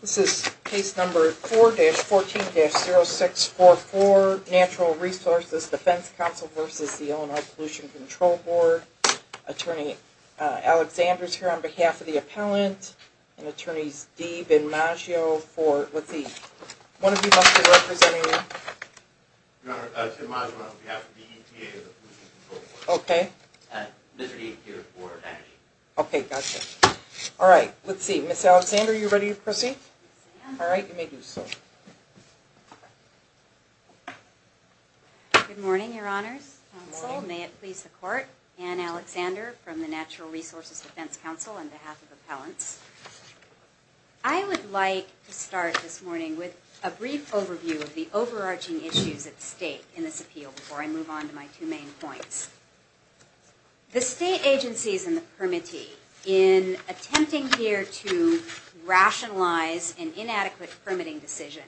This is case number 4-14-0644, Natural Resources Defense Council v. Illinois Pollution Control Board. Attorney Alexander is here on behalf of the appellant. And attorneys Deeb and Maggio for, let's see, one of you must be representing them. Your Honor, Tim Maggio on behalf of the EPA Pollution Control Board. Okay. And Mr. Deeb here for Energy. Okay, gotcha. All right. Let's see. Ms. Alexander, are you ready to proceed? Yes, I am. All right. You may do so. Good morning, Your Honors. Good morning. Counsel. May it please the Court. Anne Alexander from the Natural Resources Defense Council on behalf of appellants. I would like to start this morning with a brief overview of the overarching issues at stake in this appeal before I move on to my two main points. The state agencies and the permittee in attempting here to rationalize an inadequate permitting decision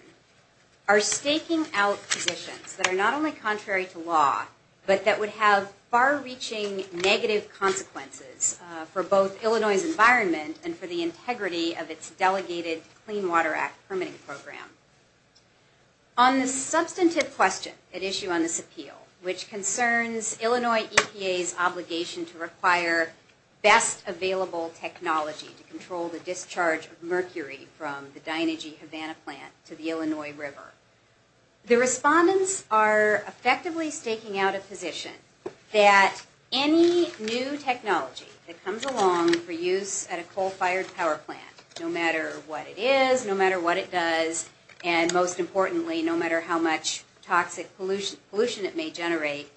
are staking out positions that are not only contrary to law, but that would have far-reaching negative consequences for both Illinois' environment and for the integrity of its Delegated Clean Water Act permitting program. On the substantive question at issue on this appeal, which concerns Illinois EPA's obligation to require best available technology to control the discharge of mercury from the Dynegy Havana plant to the Illinois River, the respondents are effectively staking out a position that any new technology that comes along for use at a coal-fired power plant, no matter what it is, no matter what it does, and most importantly, no matter how much toxic pollution it may generate,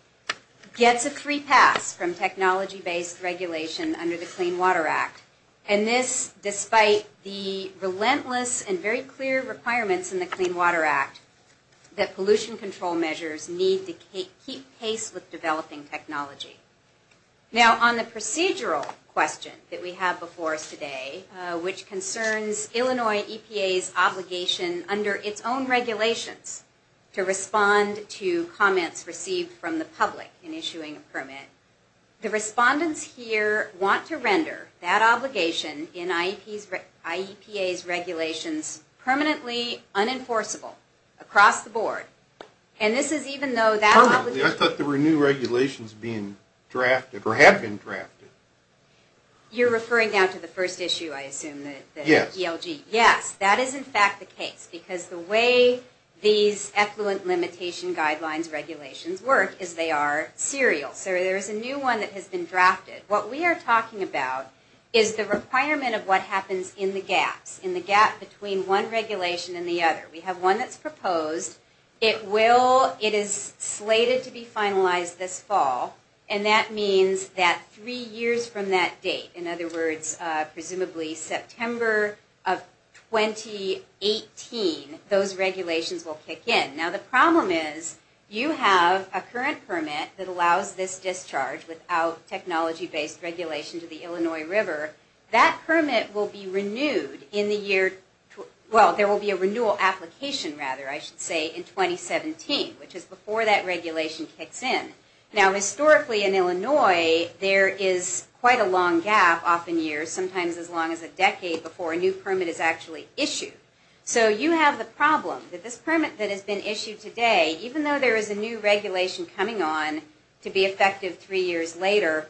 gets a free pass from technology-based regulation under the Clean Water Act. And this, despite the relentless and very clear requirements in the Clean Water Act that pollution control measures need to keep pace with developing technology. Now, on the procedural question that we have before us today, which concerns Illinois EPA's obligation under its own regulations to respond to comments received from the public in issuing a permit, the respondents here want to render that obligation in IEPA's regulations permanently I thought there were new regulations being drafted, or have been drafted. You're referring down to the first issue, I assume, the ELG. Yes. Yes, that is in fact the case, because the way these effluent limitation guidelines regulations work is they are serial, so there is a new one that has been drafted. What we are talking about is the requirement of what happens in the gaps, in the gap between one regulation and the other. We have one that's proposed. It is slated to be finalized this fall, and that means that three years from that date, in other words, presumably September of 2018, those regulations will kick in. Now the problem is, you have a current permit that allows this discharge without technology-based regulation to the Illinois River. That permit will be renewed in the year, well, there will be a renewal application, rather, I should say, in 2017, which is before that regulation kicks in. Now historically in Illinois, there is quite a long gap, often years, sometimes as long as a decade before a new permit is actually issued. So you have the problem that this permit that has been issued today, even though there is a new regulation coming on to be effective three years later,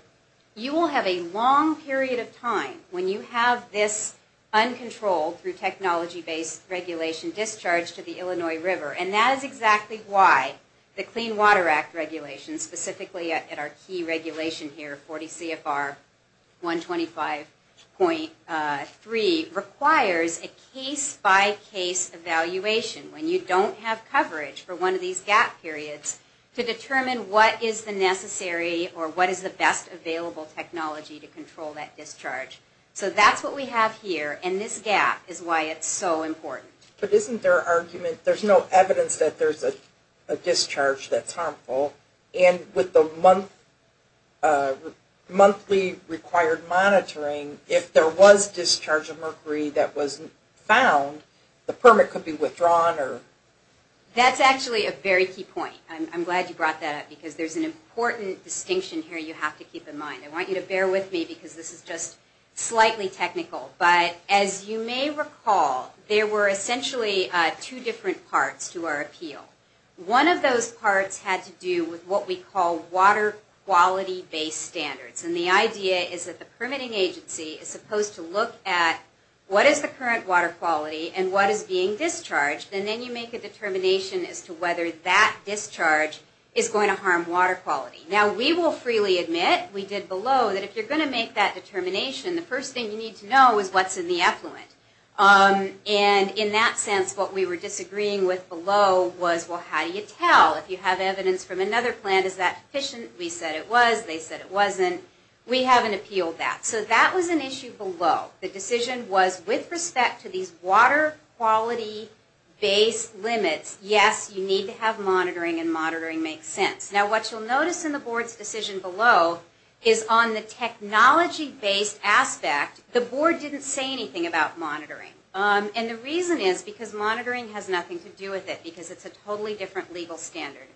you will have a long period of time when you have this uncontrolled through technology-based regulation discharge to the Illinois River, and that is exactly why the Clean Water Act regulation, specifically at our key regulation here, 40 CFR 125.3, requires a case-by-case evaluation. When you don't have coverage for one of these gap periods to determine what is the necessary or what is the best available technology to control that discharge. So that's what we have here, and this gap is why it's so important. But isn't there argument, there's no evidence that there's a discharge that's harmful, and with the monthly required monitoring, if there was discharge of mercury that wasn't found, the permit could be withdrawn? That's actually a very key point. I'm glad you brought that up because there's an important distinction here you have to keep in mind. I want you to bear with me because this is just slightly technical, but as you may recall, there were essentially two different parts to our appeal. One of those parts had to do with what we call water quality-based standards. And the idea is that the permitting agency is supposed to look at what is the current water quality and what is being discharged, and then you make a determination as to whether that discharge is going to harm water quality. Now, we will freely admit, we did below, that if you're going to make that determination, the first thing you need to know is what's in the effluent. And in that sense, what we were disagreeing with below was, well, how do you tell? If you have evidence from another plant, is that sufficient? We said it was. They said it wasn't. We haven't appealed that. So that was an issue below. The decision was with respect to these water quality-based limits, yes, you need to have monitoring and monitoring makes sense. Now, what you'll notice in the Board's decision below is on the technology-based aspect, the Board didn't say anything about monitoring. And the reason is because monitoring has nothing to do with it because it's a totally different legal standard.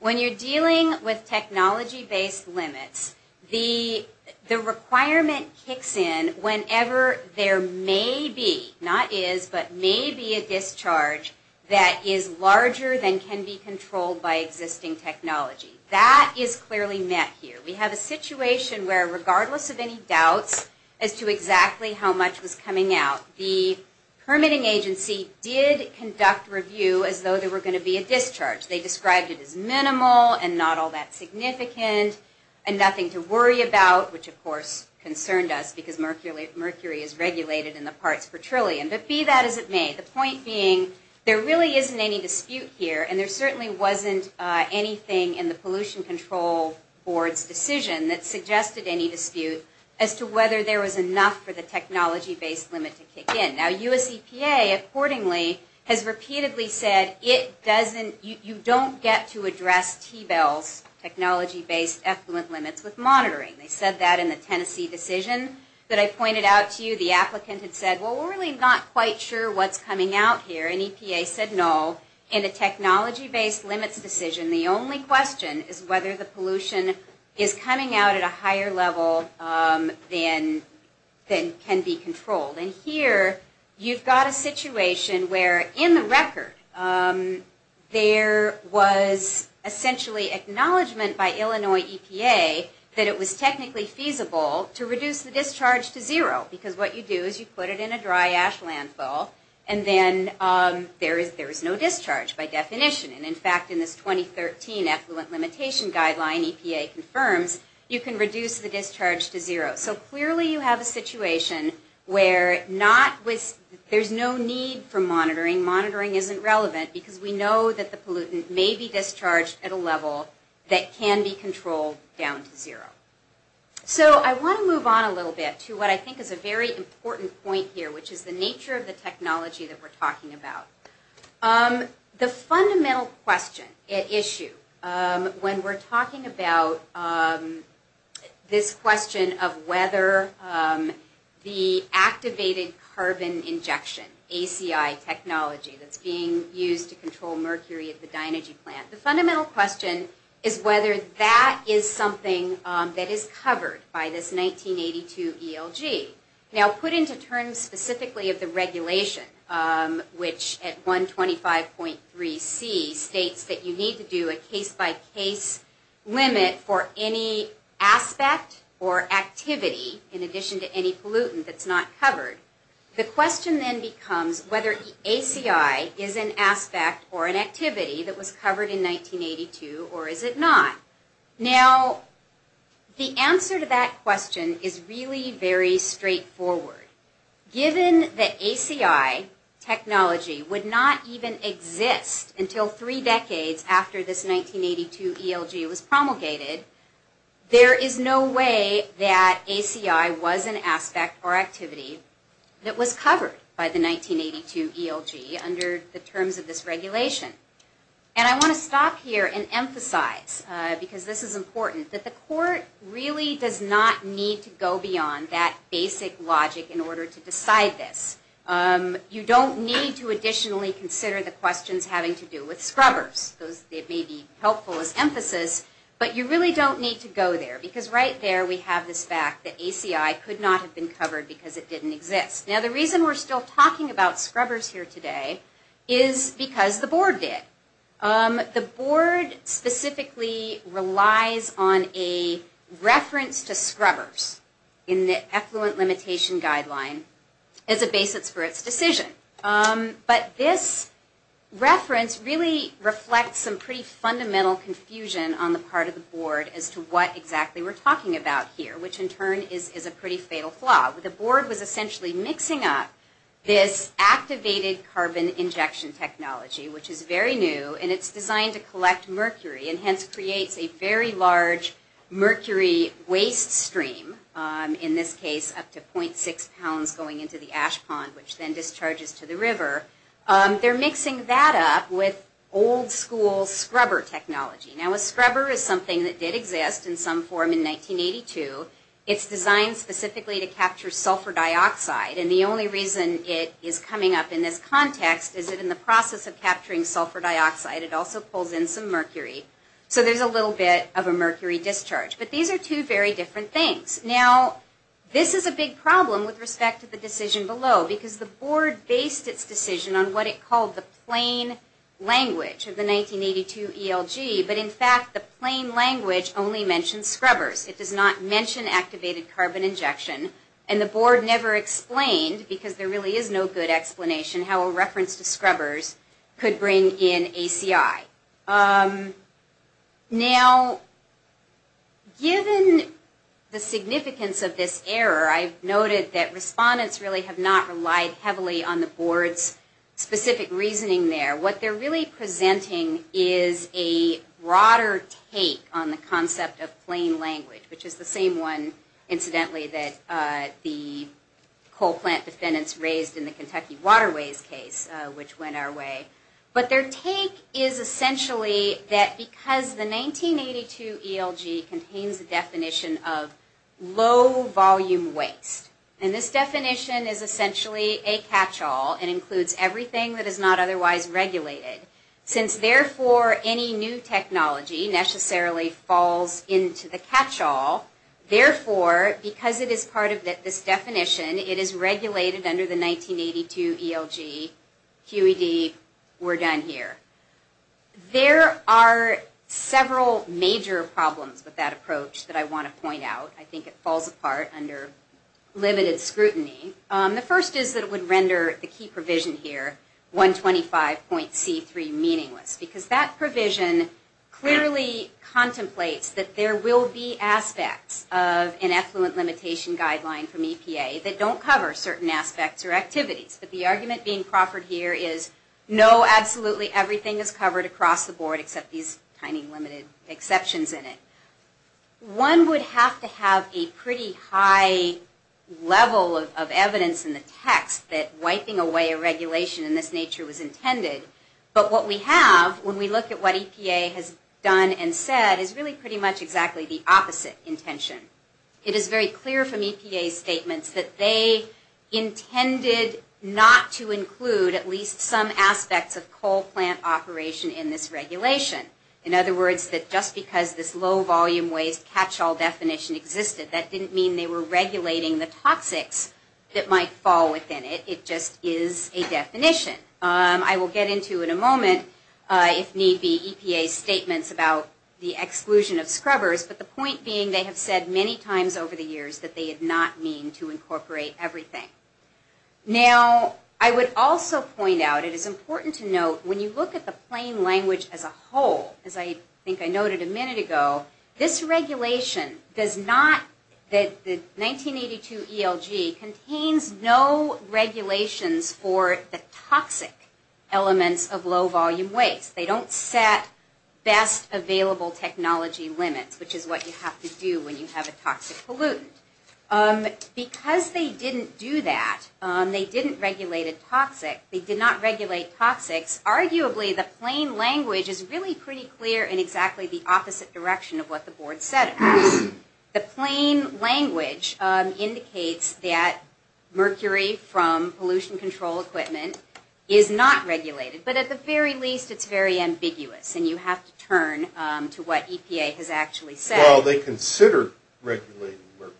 When you're dealing with technology-based limits, the requirement kicks in whenever there may be, not is, but may be a discharge that is larger than can be controlled by existing technology. That is clearly met here. We have a situation where regardless of any doubts as to exactly how much was coming out, the permitting agency did conduct review as though there were going to be a discharge. They described it as minimal and not all that significant and nothing to worry about, which of course concerned us because mercury is regulated in the parts per trillion. But be that as it may, the point being there really isn't any dispute here and there certainly wasn't anything in the Pollution Control Board's decision that suggested any dispute as to whether there was enough for the technology-based limit to kick in. Now, US EPA, accordingly, has repeatedly said it doesn't, you don't get to address TBEL's technology-based effluent limits with monitoring. They said that in the Tennessee decision that I pointed out to you. The applicant had said, well, we're really not quite sure what's coming out here. And EPA said no. In a technology-based limits decision, the only question is whether the pollution is coming out at a higher level than can be controlled. And here, you've got a situation where, in the record, there was essentially acknowledgement by Illinois EPA that it was technically feasible to reduce the discharge to zero. Because what you do is you put it in a dry ash landfill and then there is no discharge by definition. And in fact, in this 2013 effluent limitation guideline EPA confirms, you can reduce the discharge to zero. So clearly you have a situation where there's no need for monitoring. Monitoring isn't relevant because we know that the pollutant may be discharged at a level that can be controlled down to zero. So I want to move on a little bit to what I think is a very important point here, which is the nature of the technology that we're talking about. The fundamental question, issue, when we're talking about this question of whether the technology that's being used to control mercury at the dynergy plant, the fundamental question is whether that is something that is covered by this 1982 ELG. Now put into terms specifically of the regulation, which at 125.3c states that you need to do a case-by-case limit for any aspect or activity in addition to any pollutant that's not covered. The question then becomes whether ACI is an aspect or an activity that was covered in 1982 or is it not? Now the answer to that question is really very straightforward. Given that ACI technology would not even exist until three decades after this 1982 ELG was covered by the 1982 ELG under the terms of this regulation. And I want to stop here and emphasize, because this is important, that the court really does not need to go beyond that basic logic in order to decide this. You don't need to additionally consider the questions having to do with scrubbers. It may be helpful as emphasis, but you really don't need to go there because right there we have this fact that ACI could not have been covered because it didn't exist. Now the reason we're still talking about scrubbers here today is because the board did. The board specifically relies on a reference to scrubbers in the effluent limitation guideline as a basis for its decision. But this reference really reflects some pretty fundamental confusion on the part of the board as to what exactly we're talking about here, which in turn is a pretty fatal flaw. The board was essentially mixing up this activated carbon injection technology, which is very new, and it's designed to collect mercury and hence creates a very large mercury waste stream, in this case up to 0.6 pounds going into the ash pond, which then discharges to the river. They're mixing that up with old school scrubber technology. Now a scrubber is something that did exist in some form in 1982. It's designed specifically to capture sulfur dioxide, and the only reason it is coming up in this context is that in the process of capturing sulfur dioxide it also pulls in some mercury. So there's a little bit of a mercury discharge. But these are two very different things. Now this is a big problem with respect to the decision below because the board based its decision on what it called the plain language of the 1982 ELG, but in fact the plain language only mentions scrubbers. It does not mention activated carbon injection. And the board never explained, because there really is no good explanation, how a reference to scrubbers could bring in ACI. Now given the significance of this error, I've noted that respondents really have not relied heavily on the board's specific reasoning there. What they're really presenting is a broader take on the concept of plain language, which is the same one, incidentally, that the coal plant defendants raised in the Kentucky Waterways case, which went our way. But their take is essentially that because the 1982 ELG contains the definition of low volume waste, and this definition is essentially a catch-all and includes everything that is not otherwise regulated, since therefore any new technology necessarily falls into the catch-all, therefore, because it is part of this definition, it is regulated under the 1982 ELG, QED, we're done here. There are several major problems with that approach that I want to point out. I think it falls apart under limited scrutiny. The first is that it would render the key provision here, 125.C3, meaningless, because that provision clearly contemplates that there will be aspects of an effluent limitation guideline from EPA that don't cover certain aspects or activities. But the argument being proffered here is no, absolutely everything is covered across the board except these tiny limited exceptions in it. One would have to have a pretty high level of evidence in the text that wiping away a regulation in this nature was intended. But what we have, when we look at what EPA has done and said, is really pretty much exactly the opposite intention. It is very clear from EPA's statements that they intended not to include at least some aspects of coal plant operation in this regulation. In other words, that just because this low volume waste catch-all definition existed, that didn't mean they were regulating the toxics that might fall within it. It just is a definition. I will get into in a moment, if need be, EPA's statements about the exclusion of scrubbers, but the point being they have said many times over the years that they did not mean to incorporate everything. Now, I would also point out, it is important to note, when you look at the plain language as a whole, as I think I noted a minute ago, this regulation does not, the 1982 ELG contains no regulations for the toxic elements of low volume waste. They don't set best available technology limits, which is what you have to do when you have a toxic pollutant. Because they didn't do that, they didn't regulate a toxic, they did not regulate toxics, arguably the plain language is really pretty clear in exactly the opposite direction of what the board said it was. The plain language indicates that mercury from pollution control equipment is not regulated, but at the very least it's very ambiguous, and you have to turn to what EPA has actually said. Well, they considered regulating mercury,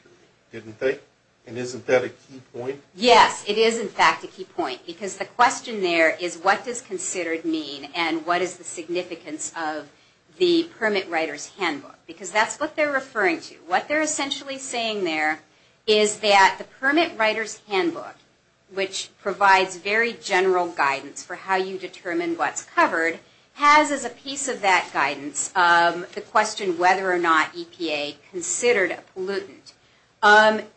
didn't they? And isn't that a key point? Yes, it is in fact a key point, because the question there is what does considered mean and what is the significance of the permit writer's handbook, because that's what they're referring to. What they're essentially saying there is that the permit writer's handbook, which provides very general guidance for how you determine what's covered, has as a piece of that guidance the question whether or not EPA considered a pollutant.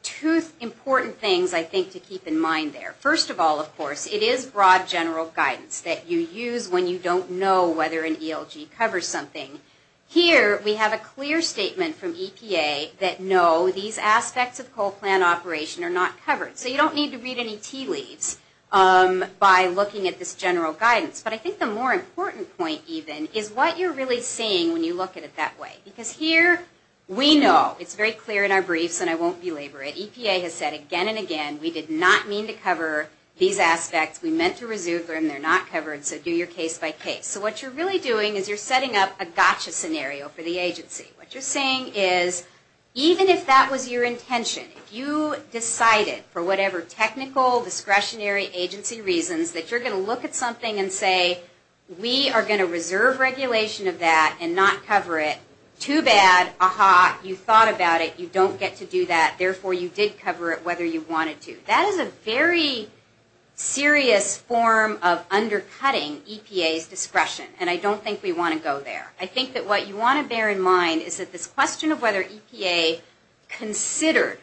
Two important things I think to keep in mind there. First of all, of course, it is broad general guidance that you use when you don't know whether an ELG covers something. Here we have a clear statement from EPA that no, these aspects of coal plant operation are not covered. So you don't need to read any tea leaves by looking at this general guidance. But I think the more important point even is what you're really saying when you look at it that way. Because here we know, it's very clear in our briefs and I won't belabor it, EPA has said again and again we did not mean to cover these aspects. We meant to reserve them, they're not covered, so do your case by case. So what you're really doing is you're setting up a gotcha scenario for the agency. What you're saying is even if that was your intention, if you decided for whatever technical discretionary agency reasons that you're going to look at something and say we are going to reserve regulation of that and not cover it, too bad, aha, you thought about it, you don't get to do that, therefore you did cover it whether you wanted to. That is a very serious form of undercutting EPA's discretion. And I don't think we want to go there. I think that what you want to bear in mind is that this question of whether EPA considered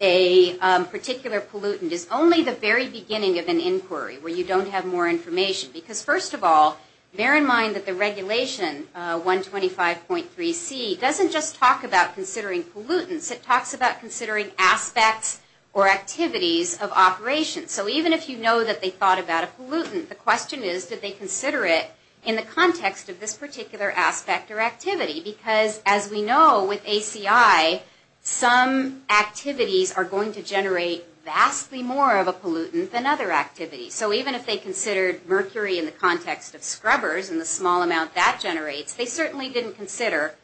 a particular pollutant is only the very beginning of an inquiry where you don't have more information. Because first of all, bear in mind that the regulation 125.3C doesn't just talk about considering pollutants, it talks about considering aspects or activities of operations. So even if you know that they thought about a pollutant, the question is did they consider it in the context of this particular aspect or activity? Because as we know with ACI, some activities are going to generate vastly more of a pollutant than other activities. So even if they considered mercury in the context of scrubbers and the small amount that generates, they certainly didn't consider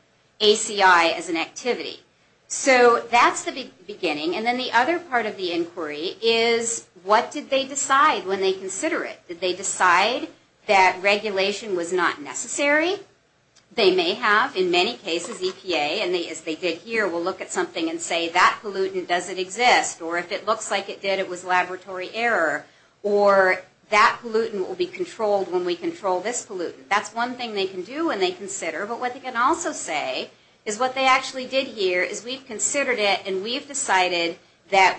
ACI as an activity. So that's the beginning. And then the other part of the inquiry is what did they decide when they consider it? Did they decide that regulation was not necessary? They may have, in many cases, EPA, and as they did here, will look at something and say that pollutant doesn't exist, or if it looks like it did, it was laboratory error, or that pollutant will be controlled when we control this pollutant. That's one thing they can do when they consider. But what they can also say is what they actually did here is we've considered it and we've decided that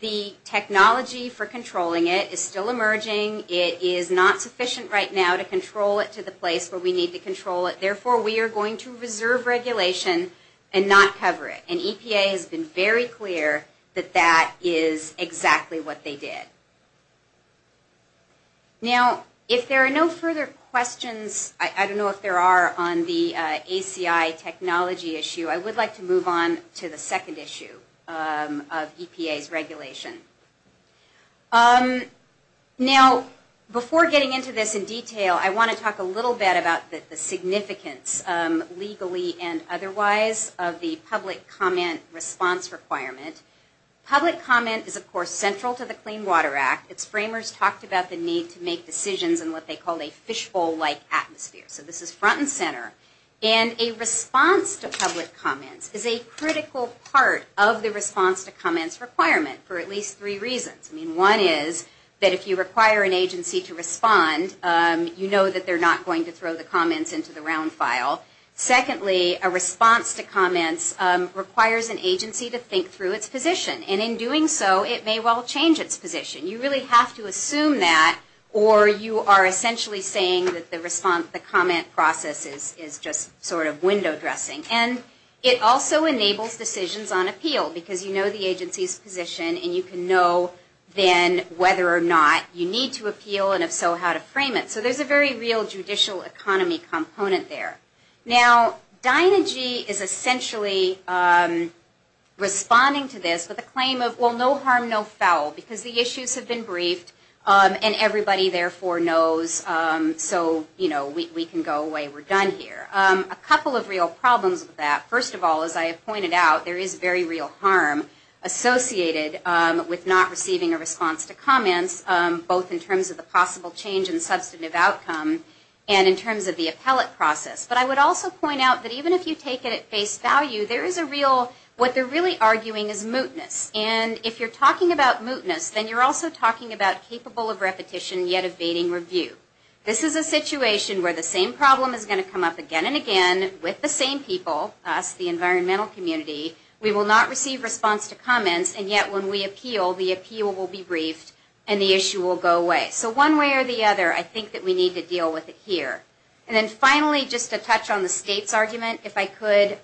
the technology for controlling it is still emerging. It is not sufficient right now to control it to the place where we need to control it. Therefore, we are going to reserve regulation and not cover it. And EPA has been very clear that that is exactly what they did. Now, if there are no further questions, I don't know if there are on the ACI technology issue, I would like to move on to the second issue of EPA's regulation. Now, before getting into this in detail, I want to talk a little bit about the significance, legally and otherwise, of the public comment response requirement. Public comment is, of course, central to the Clean Water Act. Its framers talked about the need to make decisions in what they called a fishbowl-like atmosphere. So this is front and center. And a response to public comments is a critical part of the response to comments requirement for at least three reasons. One is that if you require an agency to respond, you know that they are not going to throw the comments into the round file. Secondly, a response to comments requires an agency to think through its position. And in doing so, it may well change its position. You really have to assume that or you are essentially saying that the comment process is just sort of window dressing. And it also enables decisions on appeal because you know the agency's position and you can know then whether or not you need to appeal and if so, how to frame it. So there's a very real judicial economy component there. Now, Dynegy is essentially responding to this with a claim of, well, no harm, no foul because the issues have been briefed and everybody therefore knows so we can go away. We're done here. A couple of real problems with that. First of all, as I have pointed out, there is very real harm associated with not receiving a response to comments both in terms of the possible change in substantive outcome and in terms of the appellate process. But I would also point out that even if you take it at face value, there is a real, what they're really arguing is mootness. And if you're talking about mootness, then you're also talking about capable of repetition yet evading review. This is a situation where the same problem is going to come up again and again with the same people, us, the environmental community. We will not receive response to comments and yet when we appeal, the appeal will be briefed and the issue will go away. So one way or the other, I think that we need to deal with it here. And then finally, just to touch on the state's argument, if I could,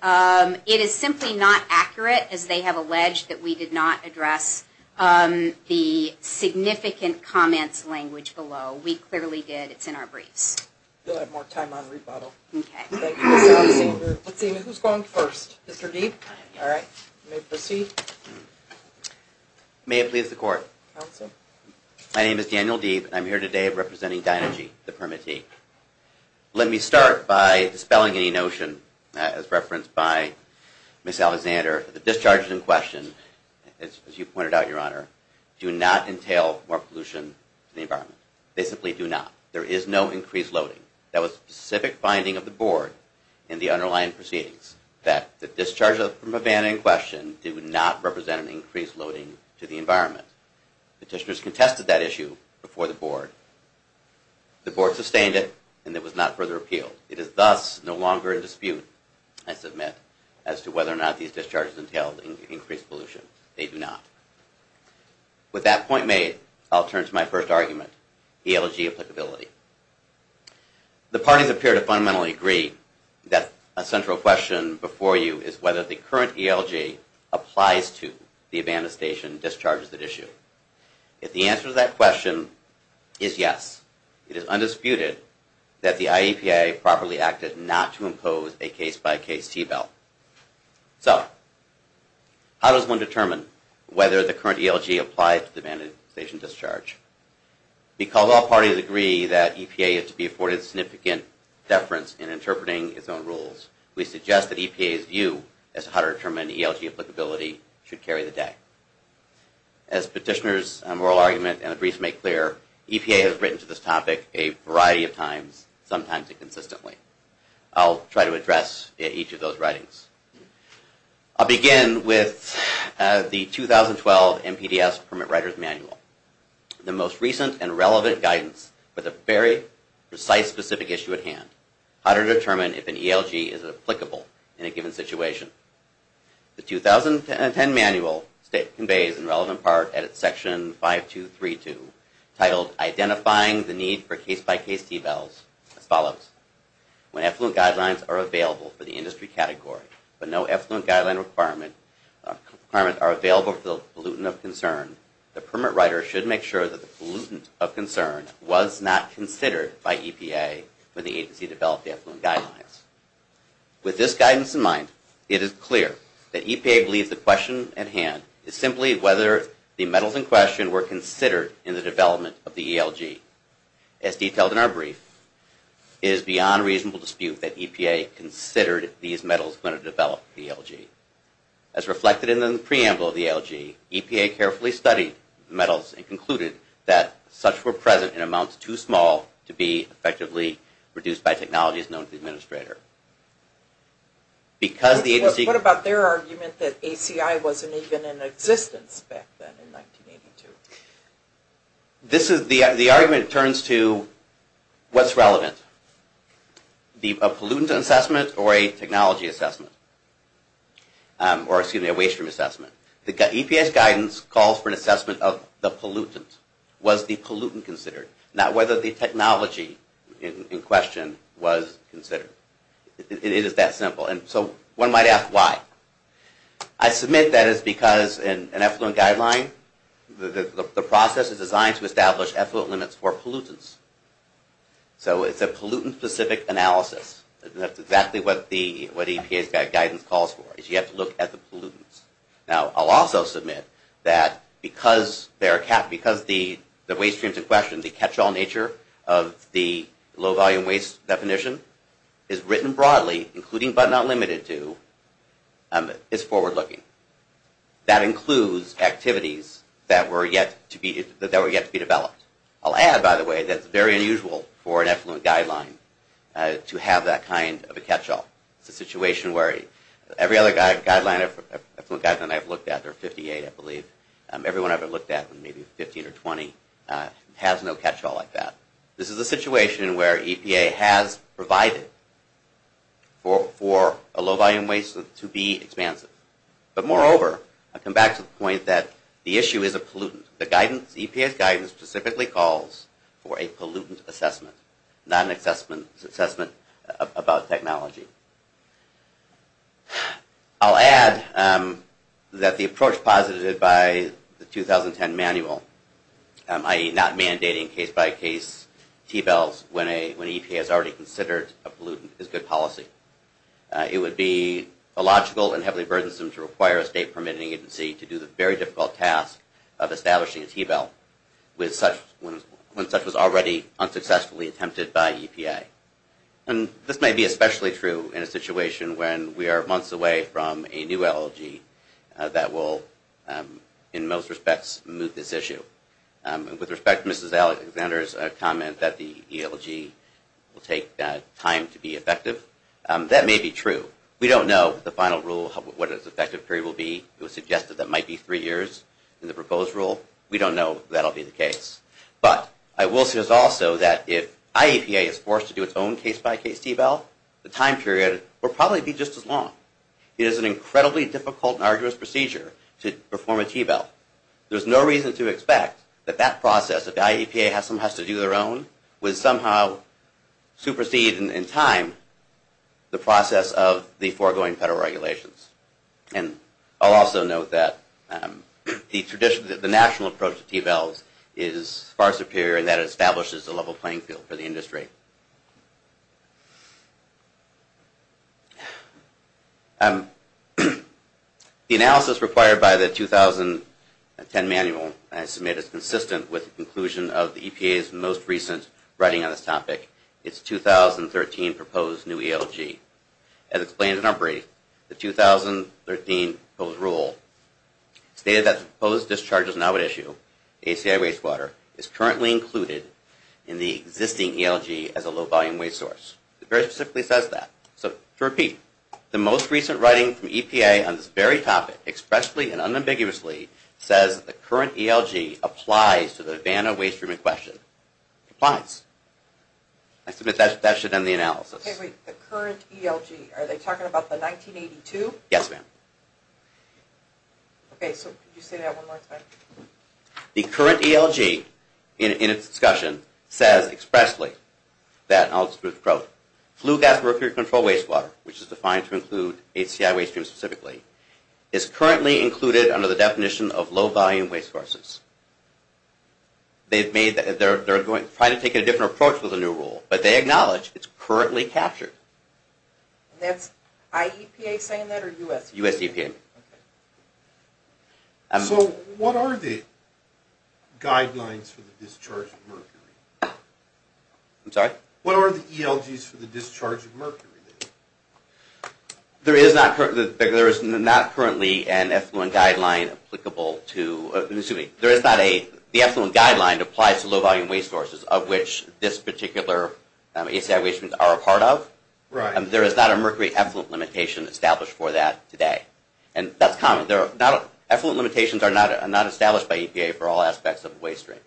it is simply not accurate as they have alleged that we did not address the significant comments language below. We clearly did. It's in our briefs. We'll have more time on rebuttal. Okay. Let's see, who's going first? Mr. Deeb? All right. You may proceed. May it please the court. Counsel. My name is Daniel Deeb. I'm here today representing Dynagy, the permittee. Let me start by dispelling any notion as referenced by Ms. Alexander that the discharges in question, as you pointed out, Your Honor, do not entail more pollution to the environment. They simply do not. There is no increased loading. That was the specific finding of the board in the underlying proceedings, that the discharges from a ban in question do not represent an increased loading to the environment. Petitioners contested that issue before the board. The board sustained it, and there was not further appeal. It is thus no longer a dispute, I submit, as to whether or not these discharges entail increased pollution. They do not. With that point made, I'll turn to my first argument, ELG applicability. The parties appear to fundamentally agree that a central question before you is whether the current ELG applies to the abandoned station discharges at issue. If the answer to that question is yes, it is undisputed that the IEPA properly acted not to impose a case-by-case T-belt. So, how does one determine whether the current ELG applies to the abandoned station discharge? Because all parties agree that EPA is to be afforded significant deference in interpreting its own rules, we suggest that EPA's view as to how to determine ELG applicability should carry the day. As petitioners' moral argument and briefs make clear, EPA has written to this topic a variety of times, sometimes inconsistently. I'll try to address each of those writings. I'll begin with the 2012 NPDES Permit Writer's Manual, the most recent and relevant guidance with a very precise, specific issue at hand, how to determine if an ELG is applicable in a given situation. The 2010 manual conveys a relevant part at section 5232, titled Identifying the Need for Case-by-Case T-belts, as follows. When effluent guidelines are available for the industry category, but no effluent guideline requirements are available for the pollutant of concern, the permit writer should make sure that the pollutant of concern was not considered by EPA when the agency developed the effluent guidelines. With this guidance in mind, it is clear that EPA believes the question at hand is simply whether the metals in question were considered in the development of the ELG. As detailed in our brief, it is beyond reasonable dispute that EPA considered these metals when it developed the ELG. As reflected in the preamble of the ELG, EPA carefully studied the metals and concluded that such were present in amounts too small to be effectively reduced by technologies known to the administrator. What about their argument that ACI wasn't even in existence back then, in 1982? The argument turns to what's relevant? A pollutant assessment or a technology assessment? Or excuse me, a waste stream assessment. The EPA's guidance calls for an assessment of the pollutant. Was the pollutant considered? Not whether the technology in question was considered. It is that simple. And so one might ask, why? I submit that it's because an effluent guideline, the process is designed to establish effluent limits for pollutants. So it's a pollutant-specific analysis. That's exactly what the EPA's guidance calls for, is you have to look at the pollutants. Now, I'll also submit that because the waste streams in question, the catch-all nature of the low-volume waste definition, is written broadly, including but not limited to, it's forward-looking. That includes activities that were yet to be developed. I'll add, by the way, that it's very unusual for an effluent guideline to have that kind of a catch-all. It's a situation where every other effluent guideline I've looked at, there are 58, I believe, everyone I've ever looked at, maybe 15 or 20, has no catch-all like that. This is a situation where EPA has provided for a low-volume waste to be expansive. But moreover, I'll come back to the point that the issue is a pollutant. The EPA's guidance specifically calls for a pollutant assessment, not an assessment about technology. I'll add that the approach posited by the 2010 manual, i.e. not mandating case-by-case T-bells when EPA has already considered a pollutant, is good policy. It would be illogical and heavily burdensome to require a state-permitting agency to do the very difficult task of establishing a T-bell when such was already unsuccessfully attempted by EPA. This may be especially true in a situation when we are months away from a new ELG that will, in most respects, move this issue. With respect to Mrs. Alexander's comment that the ELG will take time to be effective, that may be true. We don't know the final rule, what its effective period will be. It was suggested that it might be three years in the proposed rule. We don't know if that will be the case. But I will say also that if IEPA is forced to do its own case-by-case T-bell, the time period will probably be just as long. It is an incredibly difficult and arduous procedure to perform a T-bell. There's no reason to expect that that process, if IEPA somehow has to do their own, would somehow supersede in time the process of the foregoing federal regulations. And I'll also note that the national approach to T-bells is far superior in that it establishes a level playing field for the industry. The analysis required by the 2010 manual, I submit, is consistent with the conclusion of the EPA's most recent writing on this topic, its 2013 proposed new ELG. As explained in our brief, the 2013 proposed rule stated that the proposed discharges now at issue, ACI wastewater, is currently included in the existing ELG as a low-volume waste source. It very specifically says that. So, to repeat, the most recent writing from EPA on this very topic expressly and unambiguously says that the current ELG applies to the Havana waste stream in question. It applies. I submit that should end the analysis. Okay, wait, the current ELG, are they talking about the 1982? Yes, ma'am. Okay, so could you say that one more time? The current ELG, in its discussion, says expressly that, and I'll just quote, flue gas mercury controlled wastewater, which is defined to include ACI waste stream specifically, is currently included under the definition of low-volume waste sources. They're trying to take a different approach with the new rule, but they acknowledge it's currently captured. And that's IEPA saying that, or U.S. EPA? U.S. EPA. So, what are the guidelines for the discharge of mercury? I'm sorry? What are the ELGs for the discharge of mercury? There is not currently an effluent guideline applicable to, excuse me, there is not a, the effluent guideline applies to low-volume waste sources, of which this particular ACI waste stream are a part of. There is not a mercury effluent limitation established for that today. And that's common. Effluent limitations are not established by EPA for all aspects of the waste stream.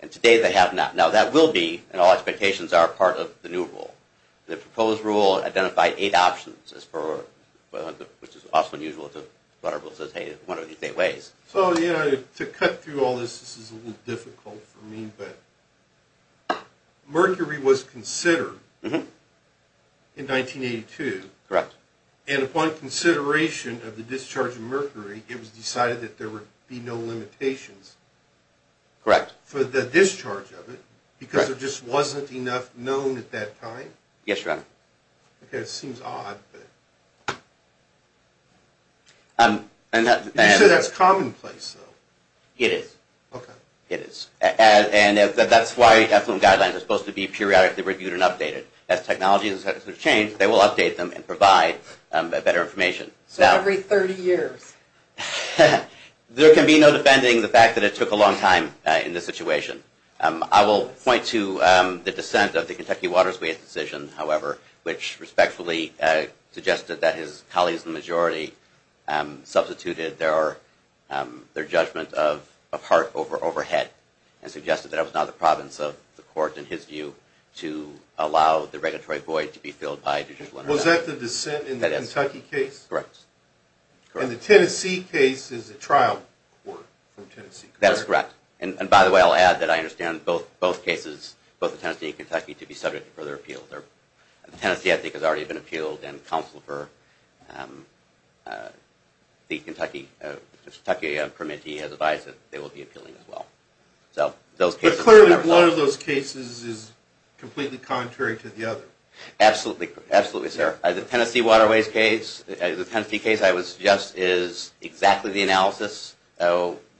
And today they have not. Now that will be, and all expectations are a part of the new rule. The proposed rule identified eight options as per, which is also unusual if the water rule says, hey, what are these eight ways? So, yeah, to cut through all this, this is a little difficult for me, but mercury was considered in 1982. Correct. And upon consideration of the discharge of mercury, it was decided that there would be no limitations. Correct. For the discharge of it, because there just wasn't enough known at that time? Yes, Your Honor. Okay, it seems odd. You said that's commonplace, though. It is. Okay. It is. And that's why effluent guidelines are supposed to be periodically reviewed and updated. As technologies change, they will update them and provide better information. So every 30 years? There can be no defending the fact that it took a long time in this situation. I will point to the dissent of the Kentucky Waterways decision, however, which respectfully suggested that his colleagues in the majority substituted their judgment of Hart over overhead and suggested that it was not the province of the court in his view to allow the regulatory void to be filled by Was that the dissent in the Kentucky case? Correct. And the Tennessee case is a trial court from Tennessee. That is correct. And by the way, I'll add that I understand both cases, both the Tennessee and Kentucky to be subject to further appeal. The Tennessee, I think, has already been appealed and counsel for the Kentucky has advised that they will be appealing as well. But clearly, one of those cases is completely contrary to the other. Absolutely, sir. The Tennessee Waterways case is exactly the analysis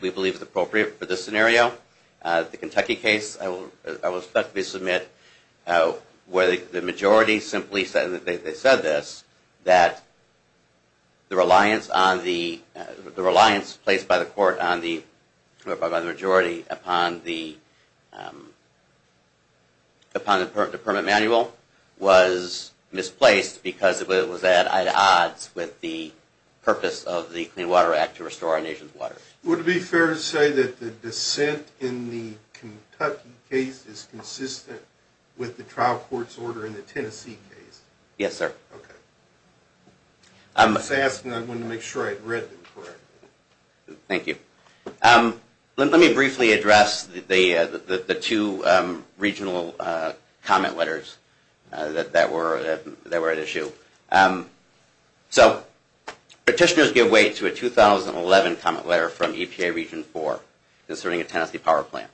we believe is appropriate for this scenario. The Kentucky case I will respectfully submit where the majority simply said this that the reliance placed by the court on the majority upon the permit manual was misplaced because it was at odds with the purpose of the Clean Water Act to restore our nation's water. Would it be fair to say that the dissent in the Kentucky case is consistent with the trial court's order in the Tennessee case? Yes, sir. Okay. I'm just asking. I wanted to make sure I read them correctly. Thank you. Let me briefly address the two regional comment letters that were at issue. Petitioners give way to a 2011 comment letter from EPA Region 4 concerning a Tennessee power plant.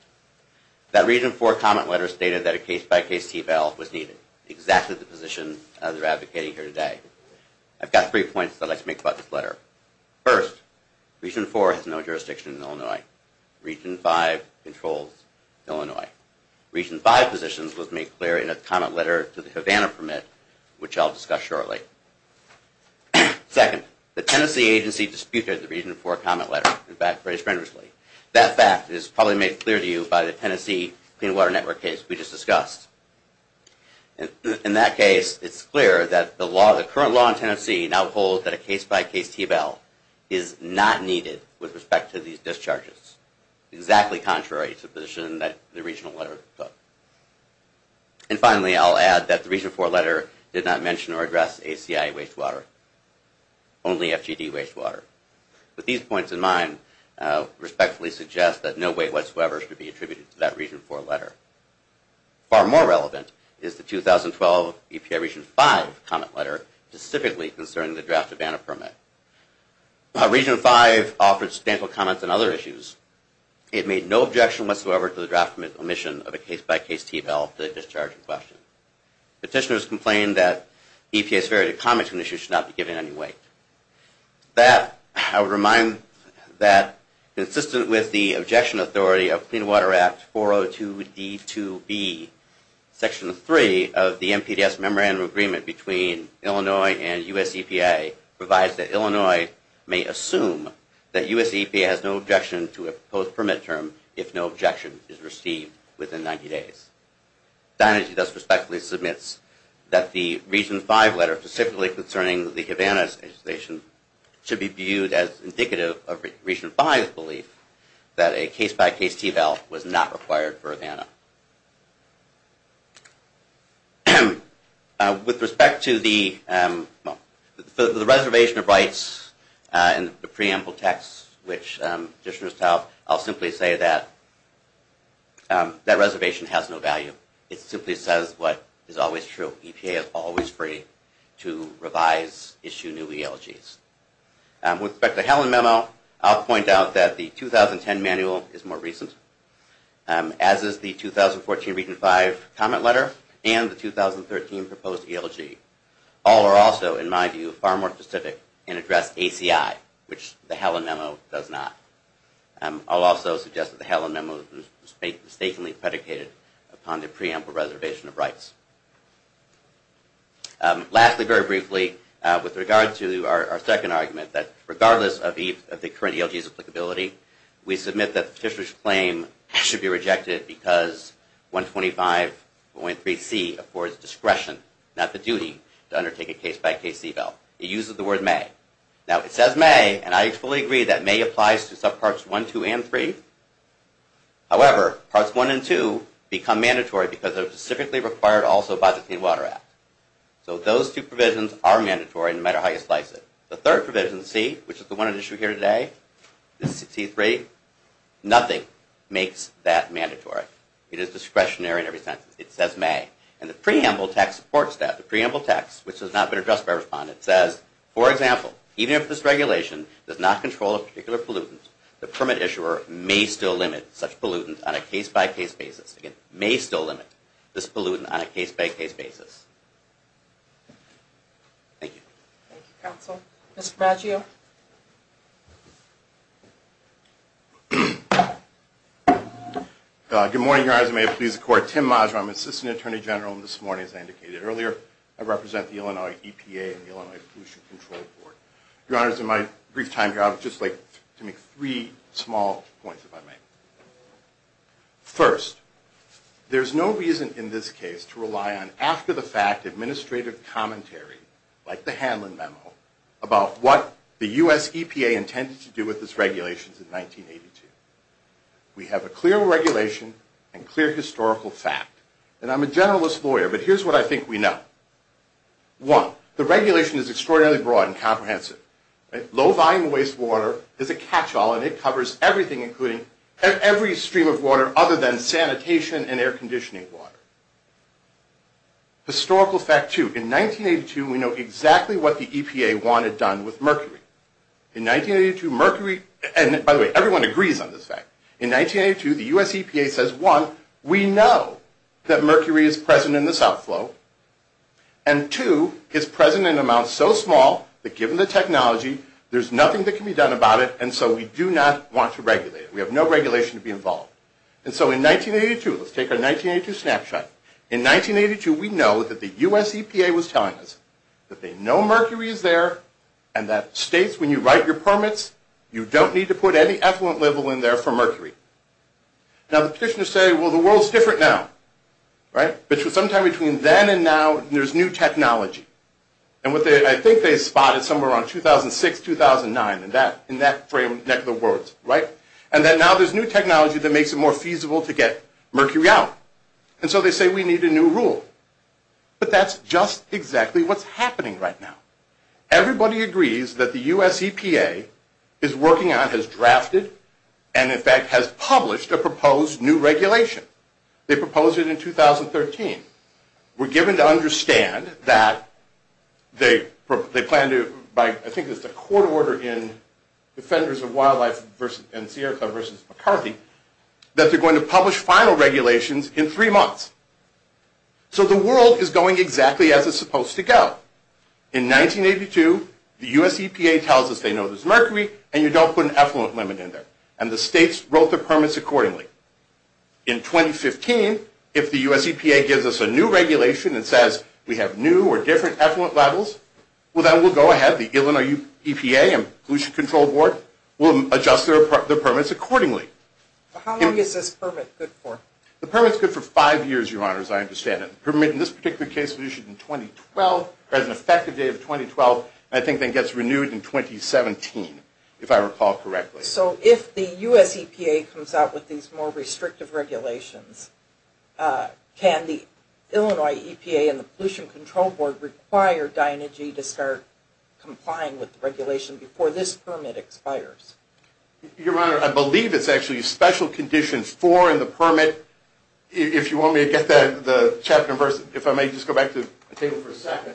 That Region 4 comment letter stated that a case-by-case T-bill was needed. Exactly the position they're advocating here today. I've got three points I'd like to make about this letter. First, Region 4 has no jurisdiction in Illinois. Region 5 controls Illinois. Region 5 positions was made clear in a comment letter to the Havana permit, which I'll discuss shortly. Second, the Tennessee agency disputed the Region 4 comment letter and backed very generously. That fact is probably made clear to you by the Tennessee Clean Water Network case we just discussed. In that case, it's clear that the current law in Tennessee now holds that a case-by-case T-bill is not needed with respect to these issues, contrary to the position that the Regional letter took. And finally, I'll add that the Region 4 letter did not mention or address ACI wastewater. Only FGD wastewater. With these points in mind, respectfully suggest that no weight whatsoever should be attributed to that Region 4 letter. Far more relevant is the 2012 EPA Region 5 comment letter specifically concerning the draft Havana permit. Region 5 offered substantial comments on other issues. It made no objection whatsoever to the draft permit omission of a case-by-case T-bill to discharge in question. Petitioners complained that EPA's very comments on the issue should not be given any weight. That, I would remind that consistent with the objection authority of Clean Water Act 402 D2B, section 3 of the NPDES memorandum agreement between Illinois and US EPA provides that Illinois may assume that US EPA has no objection to a proposed permit term if no objection is received within 90 days. Dynagy thus respectfully submits that the Region 5 letter specifically concerning the Havana legislation should be viewed as indicative of Region 5's belief that a case-by-case T-bill was not required for Havana. With respect to the reservation of rights in the preamble text which petitioners tout, I'll simply say that that reservation has no value. It simply says what is always true. EPA is always free to revise, issue new ELGs. With respect to the Helen memo, I'll point out that the 2010 manual is more recent, as is the 2014 Region 5 comment letter and the 2013 proposed ELG. All are also, in my view, far more specific and address ACI, which the Helen memo does not. I'll also suggest that the Helen memo was mistakenly predicated upon the preamble reservation of rights. Lastly, very briefly, with regard to our second argument, that regardless of the current ELG's applicability, we submit that the petitioner's claim should be rejected because 125.3c affords discretion, not the duty, to undertake a case-by-case eval. It uses the word may. Now, it says may and I fully agree that may applies to subparts 1, 2, and 3. However, parts 1 and 2 become mandatory because they're specifically required also by the Clean Water Act. So those two provisions are mandatory no matter how you slice it. The third provision, C, which is the one at issue here today, C3, nothing makes that mandatory. It is discretionary in that it says may. And the preamble text supports that. The preamble text, which has not been addressed by a respondent, says, for example, even if this regulation does not control a particular pollutant, the permit issuer may still limit such pollutant on a case-by-case basis. Again, may still limit this pollutant on a case-by-case basis. Thank you. Thank you, counsel. Mr. Baggio? Good morning, Your Honors. I'm Assistant Attorney General. This morning, as I indicated earlier, I represent the Illinois EPA and the Illinois Pollution Control Board. Your Honors, in my brief time here, I would just like to make three small points, if I may. First, there's no reason in this case administrative commentary, like the Hanlon Memo, about what the U.S. EPA intended to do with its regulations in 1982. We have a clear regulation and clear historical fact. And I'm a generalist lawyer, but here's what I think we know. One, the regulation is extraordinarily broad and comprehensive. Low-volume wastewater is a catch-all, and it covers everything, including every stream of water other than sanitation and air-conditioning water. Historical fact two, in 1982, we know exactly what the EPA wanted done with mercury. In 1982, mercury and, by the way, everyone agrees on this fact. In 1982, the U.S. EPA says, one, we know that mercury is present in the south flow, and two, it's present in amounts so small that, given the technology, there's nothing that can be done about it, and so we do not want to regulate it. We have no regulation to be involved. And so in 1982, let's take our 1982 snapshot. In 1982, we know that the U.S. EPA was telling us that they know mercury is there, and that states when you write your permits, you don't need to put any effluent level in there for mercury. Now, the petitioners say, well, the world's different now. Right? But sometime between then and now, there's new technology. And what they, I think they spotted somewhere around 2006, 2009, in that frame, neck of the words, right? And that now there's new technology that makes it more feasible to get mercury out. And so they say we need a new rule. But that's just exactly what's happening right now. Everybody agrees that the U.S. EPA is working on, has drafted, and in fact has published a proposed new regulation. They proposed it in 2013. We're given to understand that they plan to, I think it's the court order in Defenders of Wildlife and Sierra Club versus McCarthy, that they're going to publish final regulations in three months. So the world is going exactly as it's supposed to go. In 1982, the U.S. EPA tells us they know there's mercury, and you don't put an effluent limit in there. And the states wrote their permits accordingly. In 2015, if the U.S. EPA gives us a new regulation and says we have new or different effluent levels, well then we'll go ahead, the Illinois EPA and Pollution Control Board will adjust their permits accordingly. How long is this permit good for? The permit's good for five years, Your Honor, as I understand it. The permit in this particular case was issued in 2012, had an effective date of 2012, and I think it gets renewed in 2017, if I recall correctly. So if the U.S. EPA comes out with these more restrictive regulations, can the Illinois EPA and the Pollution Control Board require Dynagy to start complying with the regulation before this permit expires? Your Honor, I believe it's actually special condition 4 in the permit, if you want me to get the chapter verse, if I may just go back to the table for a second.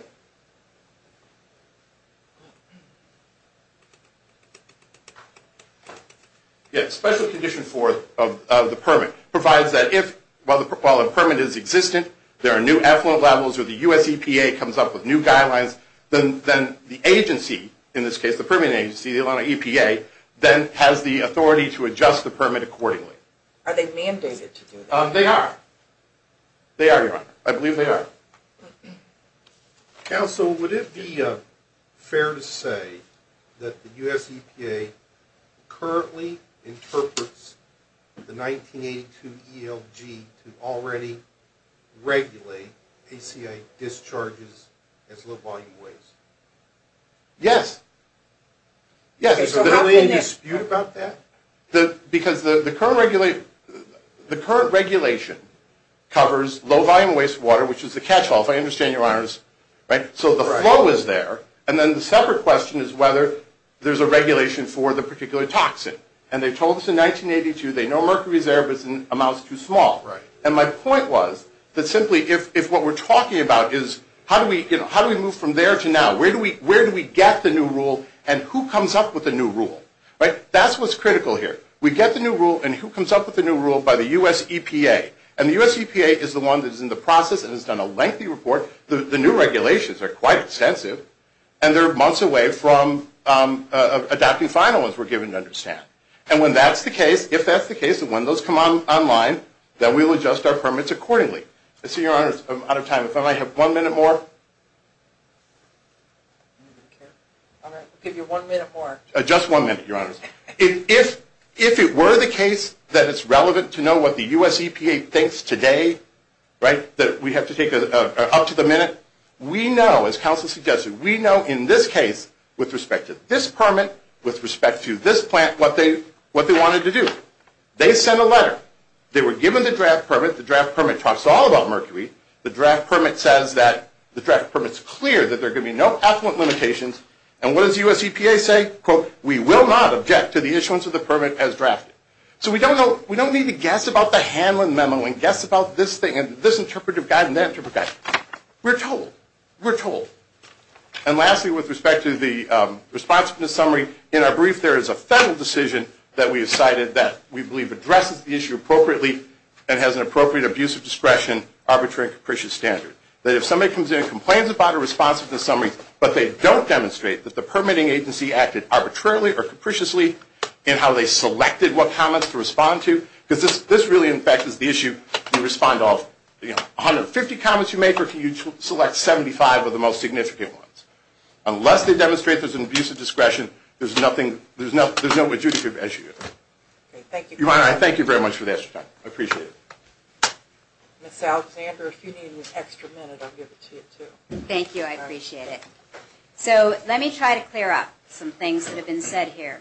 Yeah, special condition 4 of the permit provides that if while the permit is existent, there are new effluent levels, or the U.S. EPA comes up with new guidelines, then the agency, in this case, then has the authority to adjust the permit accordingly. Are they mandated to do that? They are. They are, Your Honor. I believe they are. Counsel, would it be fair to say that the U.S. EPA currently interprets the 1982 ELG to already regulate ACI discharges as low volume waste? Yes. Yes. Okay, so how can this... Because the current regulation covers low volume wastewater, which is the catch-all, if I understand you, Your Honors. So the flow is there, and then the separate question is whether there's a regulation for the particular toxin. And they told us in 1982 they know mercury is there, but the amount is too small. And my point was that simply, if what we're talking about is how do we move from there to now, where do we get the new rule, and who comes up with the new rule? That's what's critical here. We get the new rule, and who comes up with the new rule by the U.S. EPA. And the U.S. EPA is the one that's in the process and has done a lengthy report. The new regulations are quite extensive, and they're months away from adopting final ones we're given, to understand. And when that's the case, if that's the case, and when those come online, then we'll adjust our permits accordingly. So, Your Honors, I'm out of time. If I may have one minute more? I'll give you one minute more. Just one minute, Your Honors. If it were the case that it's relevant to know what the U.S. EPA thinks today, that we have to take up to the minute, we know, as counsel suggested, we know in this case, with respect to this permit, with respect to this plant, what they wanted to do. They sent a letter. They were given the draft permit. The draft permit talks all about that. The draft permit's clear that they're giving no affluent limitations. And what does the U.S. EPA say? We will not object to the issuance of the permit as drafted. So we don't need to guess about the Hanlon memo and guess about this thing and this interpretive guide and that interpretive guide. We're told. We're told. And lastly, with respect to the response from the summary, in our brief, there is a federal decision that we have cited that we believe addresses the issue appropriately and has an appropriate abuse of discretion, arbitrary and capricious standard. That if somebody comes in and complains about a response to the summary but they don't demonstrate that the permitting agency acted arbitrarily or capriciously in how they selected what comments to respond to, because this really, in fact, is the issue. You respond to all, you know, 150 comments you make or can you select 75 of the most significant ones? Unless they demonstrate there's an abuse of discretion, there's nothing, there's no adjudicative issue there. Your Honor, I thank you very much for the extra time. I appreciate it. Ms. Alexander, if you need an extra minute, I'll give it to you too. Thank you. I appreciate it. So, let me try to clear up some things that have been said here.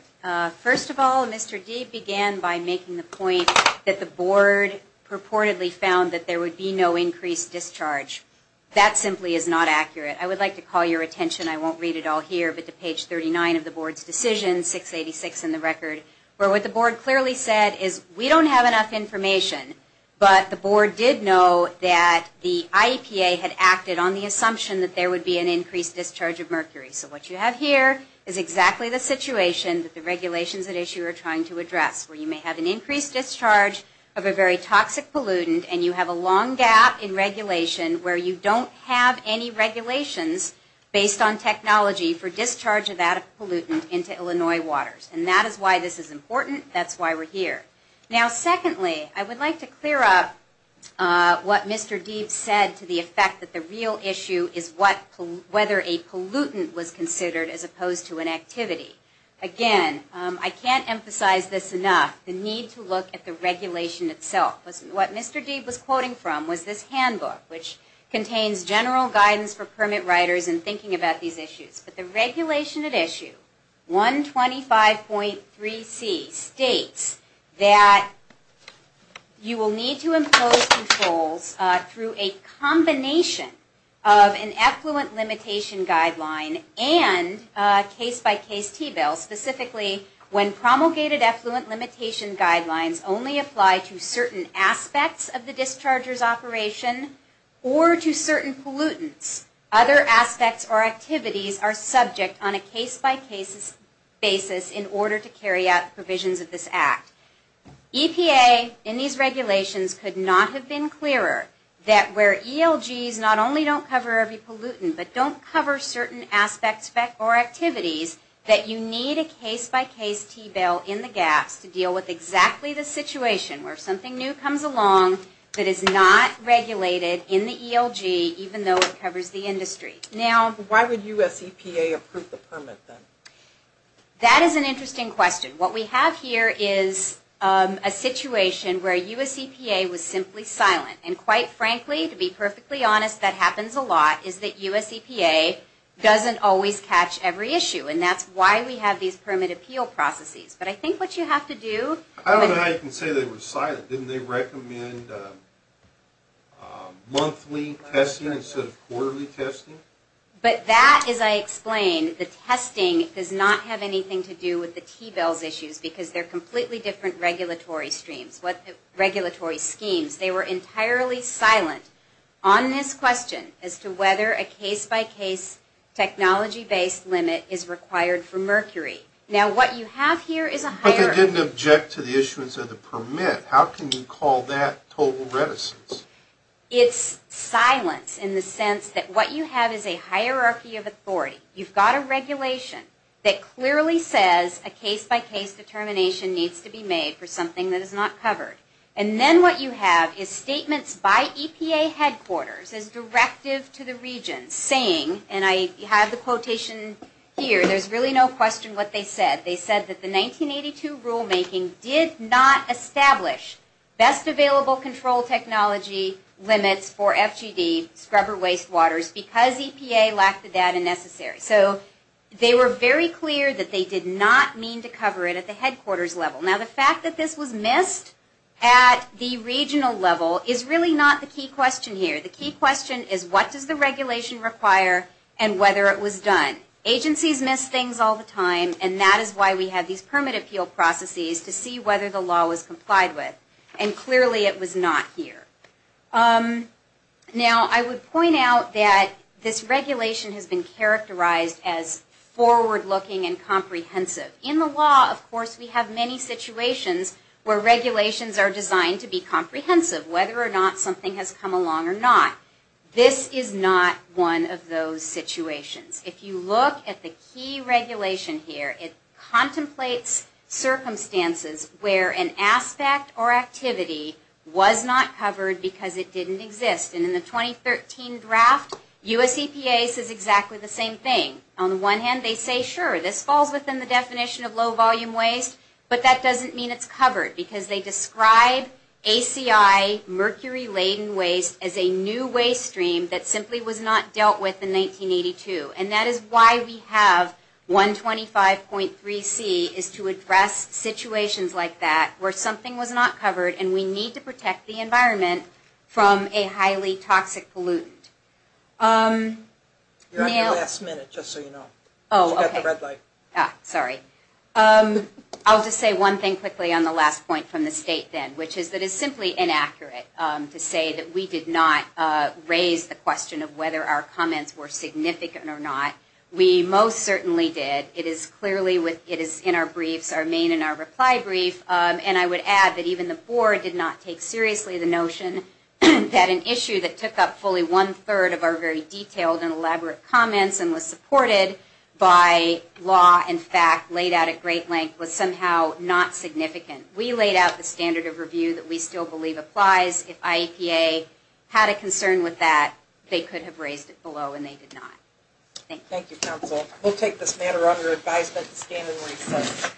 First of all, Mr. Deeb began by making the point that the Board purportedly found that there would be no increased discharge. That simply is not accurate. I would like to call your attention, I won't read it all here, but to page 39 of the Board's decision, 686 in the record, where what the Board clearly said is we don't have enough information, but the Board did know that the IEPA had acted on the assumption that there would be an increased discharge of mercury. So what you have here is exactly the situation that the regulations at issue are trying to address, where you may have an increased discharge of a very toxic pollutant and you have a long gap in regulation where you don't have any regulations based on technology for discharge of that pollutant into Illinois waters. And that is why this is important, that's why we're here. Now secondly, I would like to clear up what Mr. Deeb said to the effect that the real issue is whether a pollutant was considered as opposed to an activity. Again, I can't emphasize this enough, the need to look at the regulation itself. What Mr. Deeb was quoting from was this handbook, which contains general guidance for permit writers in thinking about these issues. But the regulation at issue, 125.3c states that you will need to impose controls through a combination of an effluent limitation guideline and case-by-case T-bill, specifically when promulgated effluent limitation guidelines only apply discharger's operation, or to certain pollutants. Other aspects or activities are subject on a case-by-case basis in order to carry out provisions of this Act. EPA in these regulations could not have been clearer that where ELGs not only don't cover every pollutant, but don't cover certain aspects or activities that you need a case-by-case T-bill in the gaps to deal with exactly the situation where something new comes along that is not regulated in the ELG, even though it covers the industry. Now, why would U.S. EPA approve the permit then? That is an interesting question. What we have here is a situation where U.S. EPA was simply silent. And quite frankly, to be perfectly honest, that happens a lot is that U.S. EPA doesn't always catch every issue. And that's why we have these permit appeal processes. But I think what you have to do I don't know how you can say they were silent. Didn't they recommend monthly testing instead of quarterly testing? But that, as I explained, the testing does not have anything to do with the T-bills issues because they're completely different regulatory schemes. They were entirely silent on this question as to whether a case-by-case technology-based limit is required for mercury. Now, what you have here is a higher... But they didn't object to the issuance of the permit. How can you call that total reticence? It's silence in the sense that what you have is a hierarchy of authority. You've got a regulation that clearly says a case-by-case determination needs to be made for something that is not covered. And then what you have is statements by EPA headquarters as directive to the region saying, and I have the quotation here. There's really no question what they said. They said that the 1982 rulemaking did not establish best available control technology limits for FGD scrubber wastewaters because EPA lacked the data necessary. So they were very clear that they did not mean to cover it at the headquarters level. Now, the fact that this was missed at the regional level is really not the key question here. The key question is what does the regulation require and whether it was done? Agencies miss things all the time, and that is why we have these permit appeal processes to see whether the law was complied with. And clearly it was not here. Now, I would point out that this regulation has been characterized as forward-looking and comprehensive. In the law, of course, we have many situations where regulations are designed to be comprehensive, whether or not something has come along or not. This is not one of those situations. If you look at the key regulation here, it contemplates circumstances where an aspect or activity was not covered because it didn't exist. And in the 2013 draft, US EPA says exactly the same thing. On the one hand, they say, sure, this falls within the definition of low-volume waste, but that doesn't mean it's covered because they describe ACI, mercury-laden waste, as a new waste stream that simply was not dealt with in 1982. And that is why we have 125.3C is to address situations like that where something was not covered and we need to protect the environment from a highly toxic pollutant. You're at the last minute, just so you know. Oh, okay. Sorry. I'll just say one thing quickly on the last point from the state then, which is that it's simply inaccurate to say that we did not raise the question of whether our comments were significant or not. We most certainly did. It is clearly in our briefs, our main and our reply brief, and I would add that even the board did not take seriously the notion that an issue that took up fully one-third of our very detailed and elaborate comments and was supported by law and fact laid out at great length was somehow not significant. We laid out the standard of review that we still believe applies. If IEPA had a concern with that, they could have raised it below, and they did not. Thank you. Thank you, counsel. We'll take this matter under advisement to stand and recess.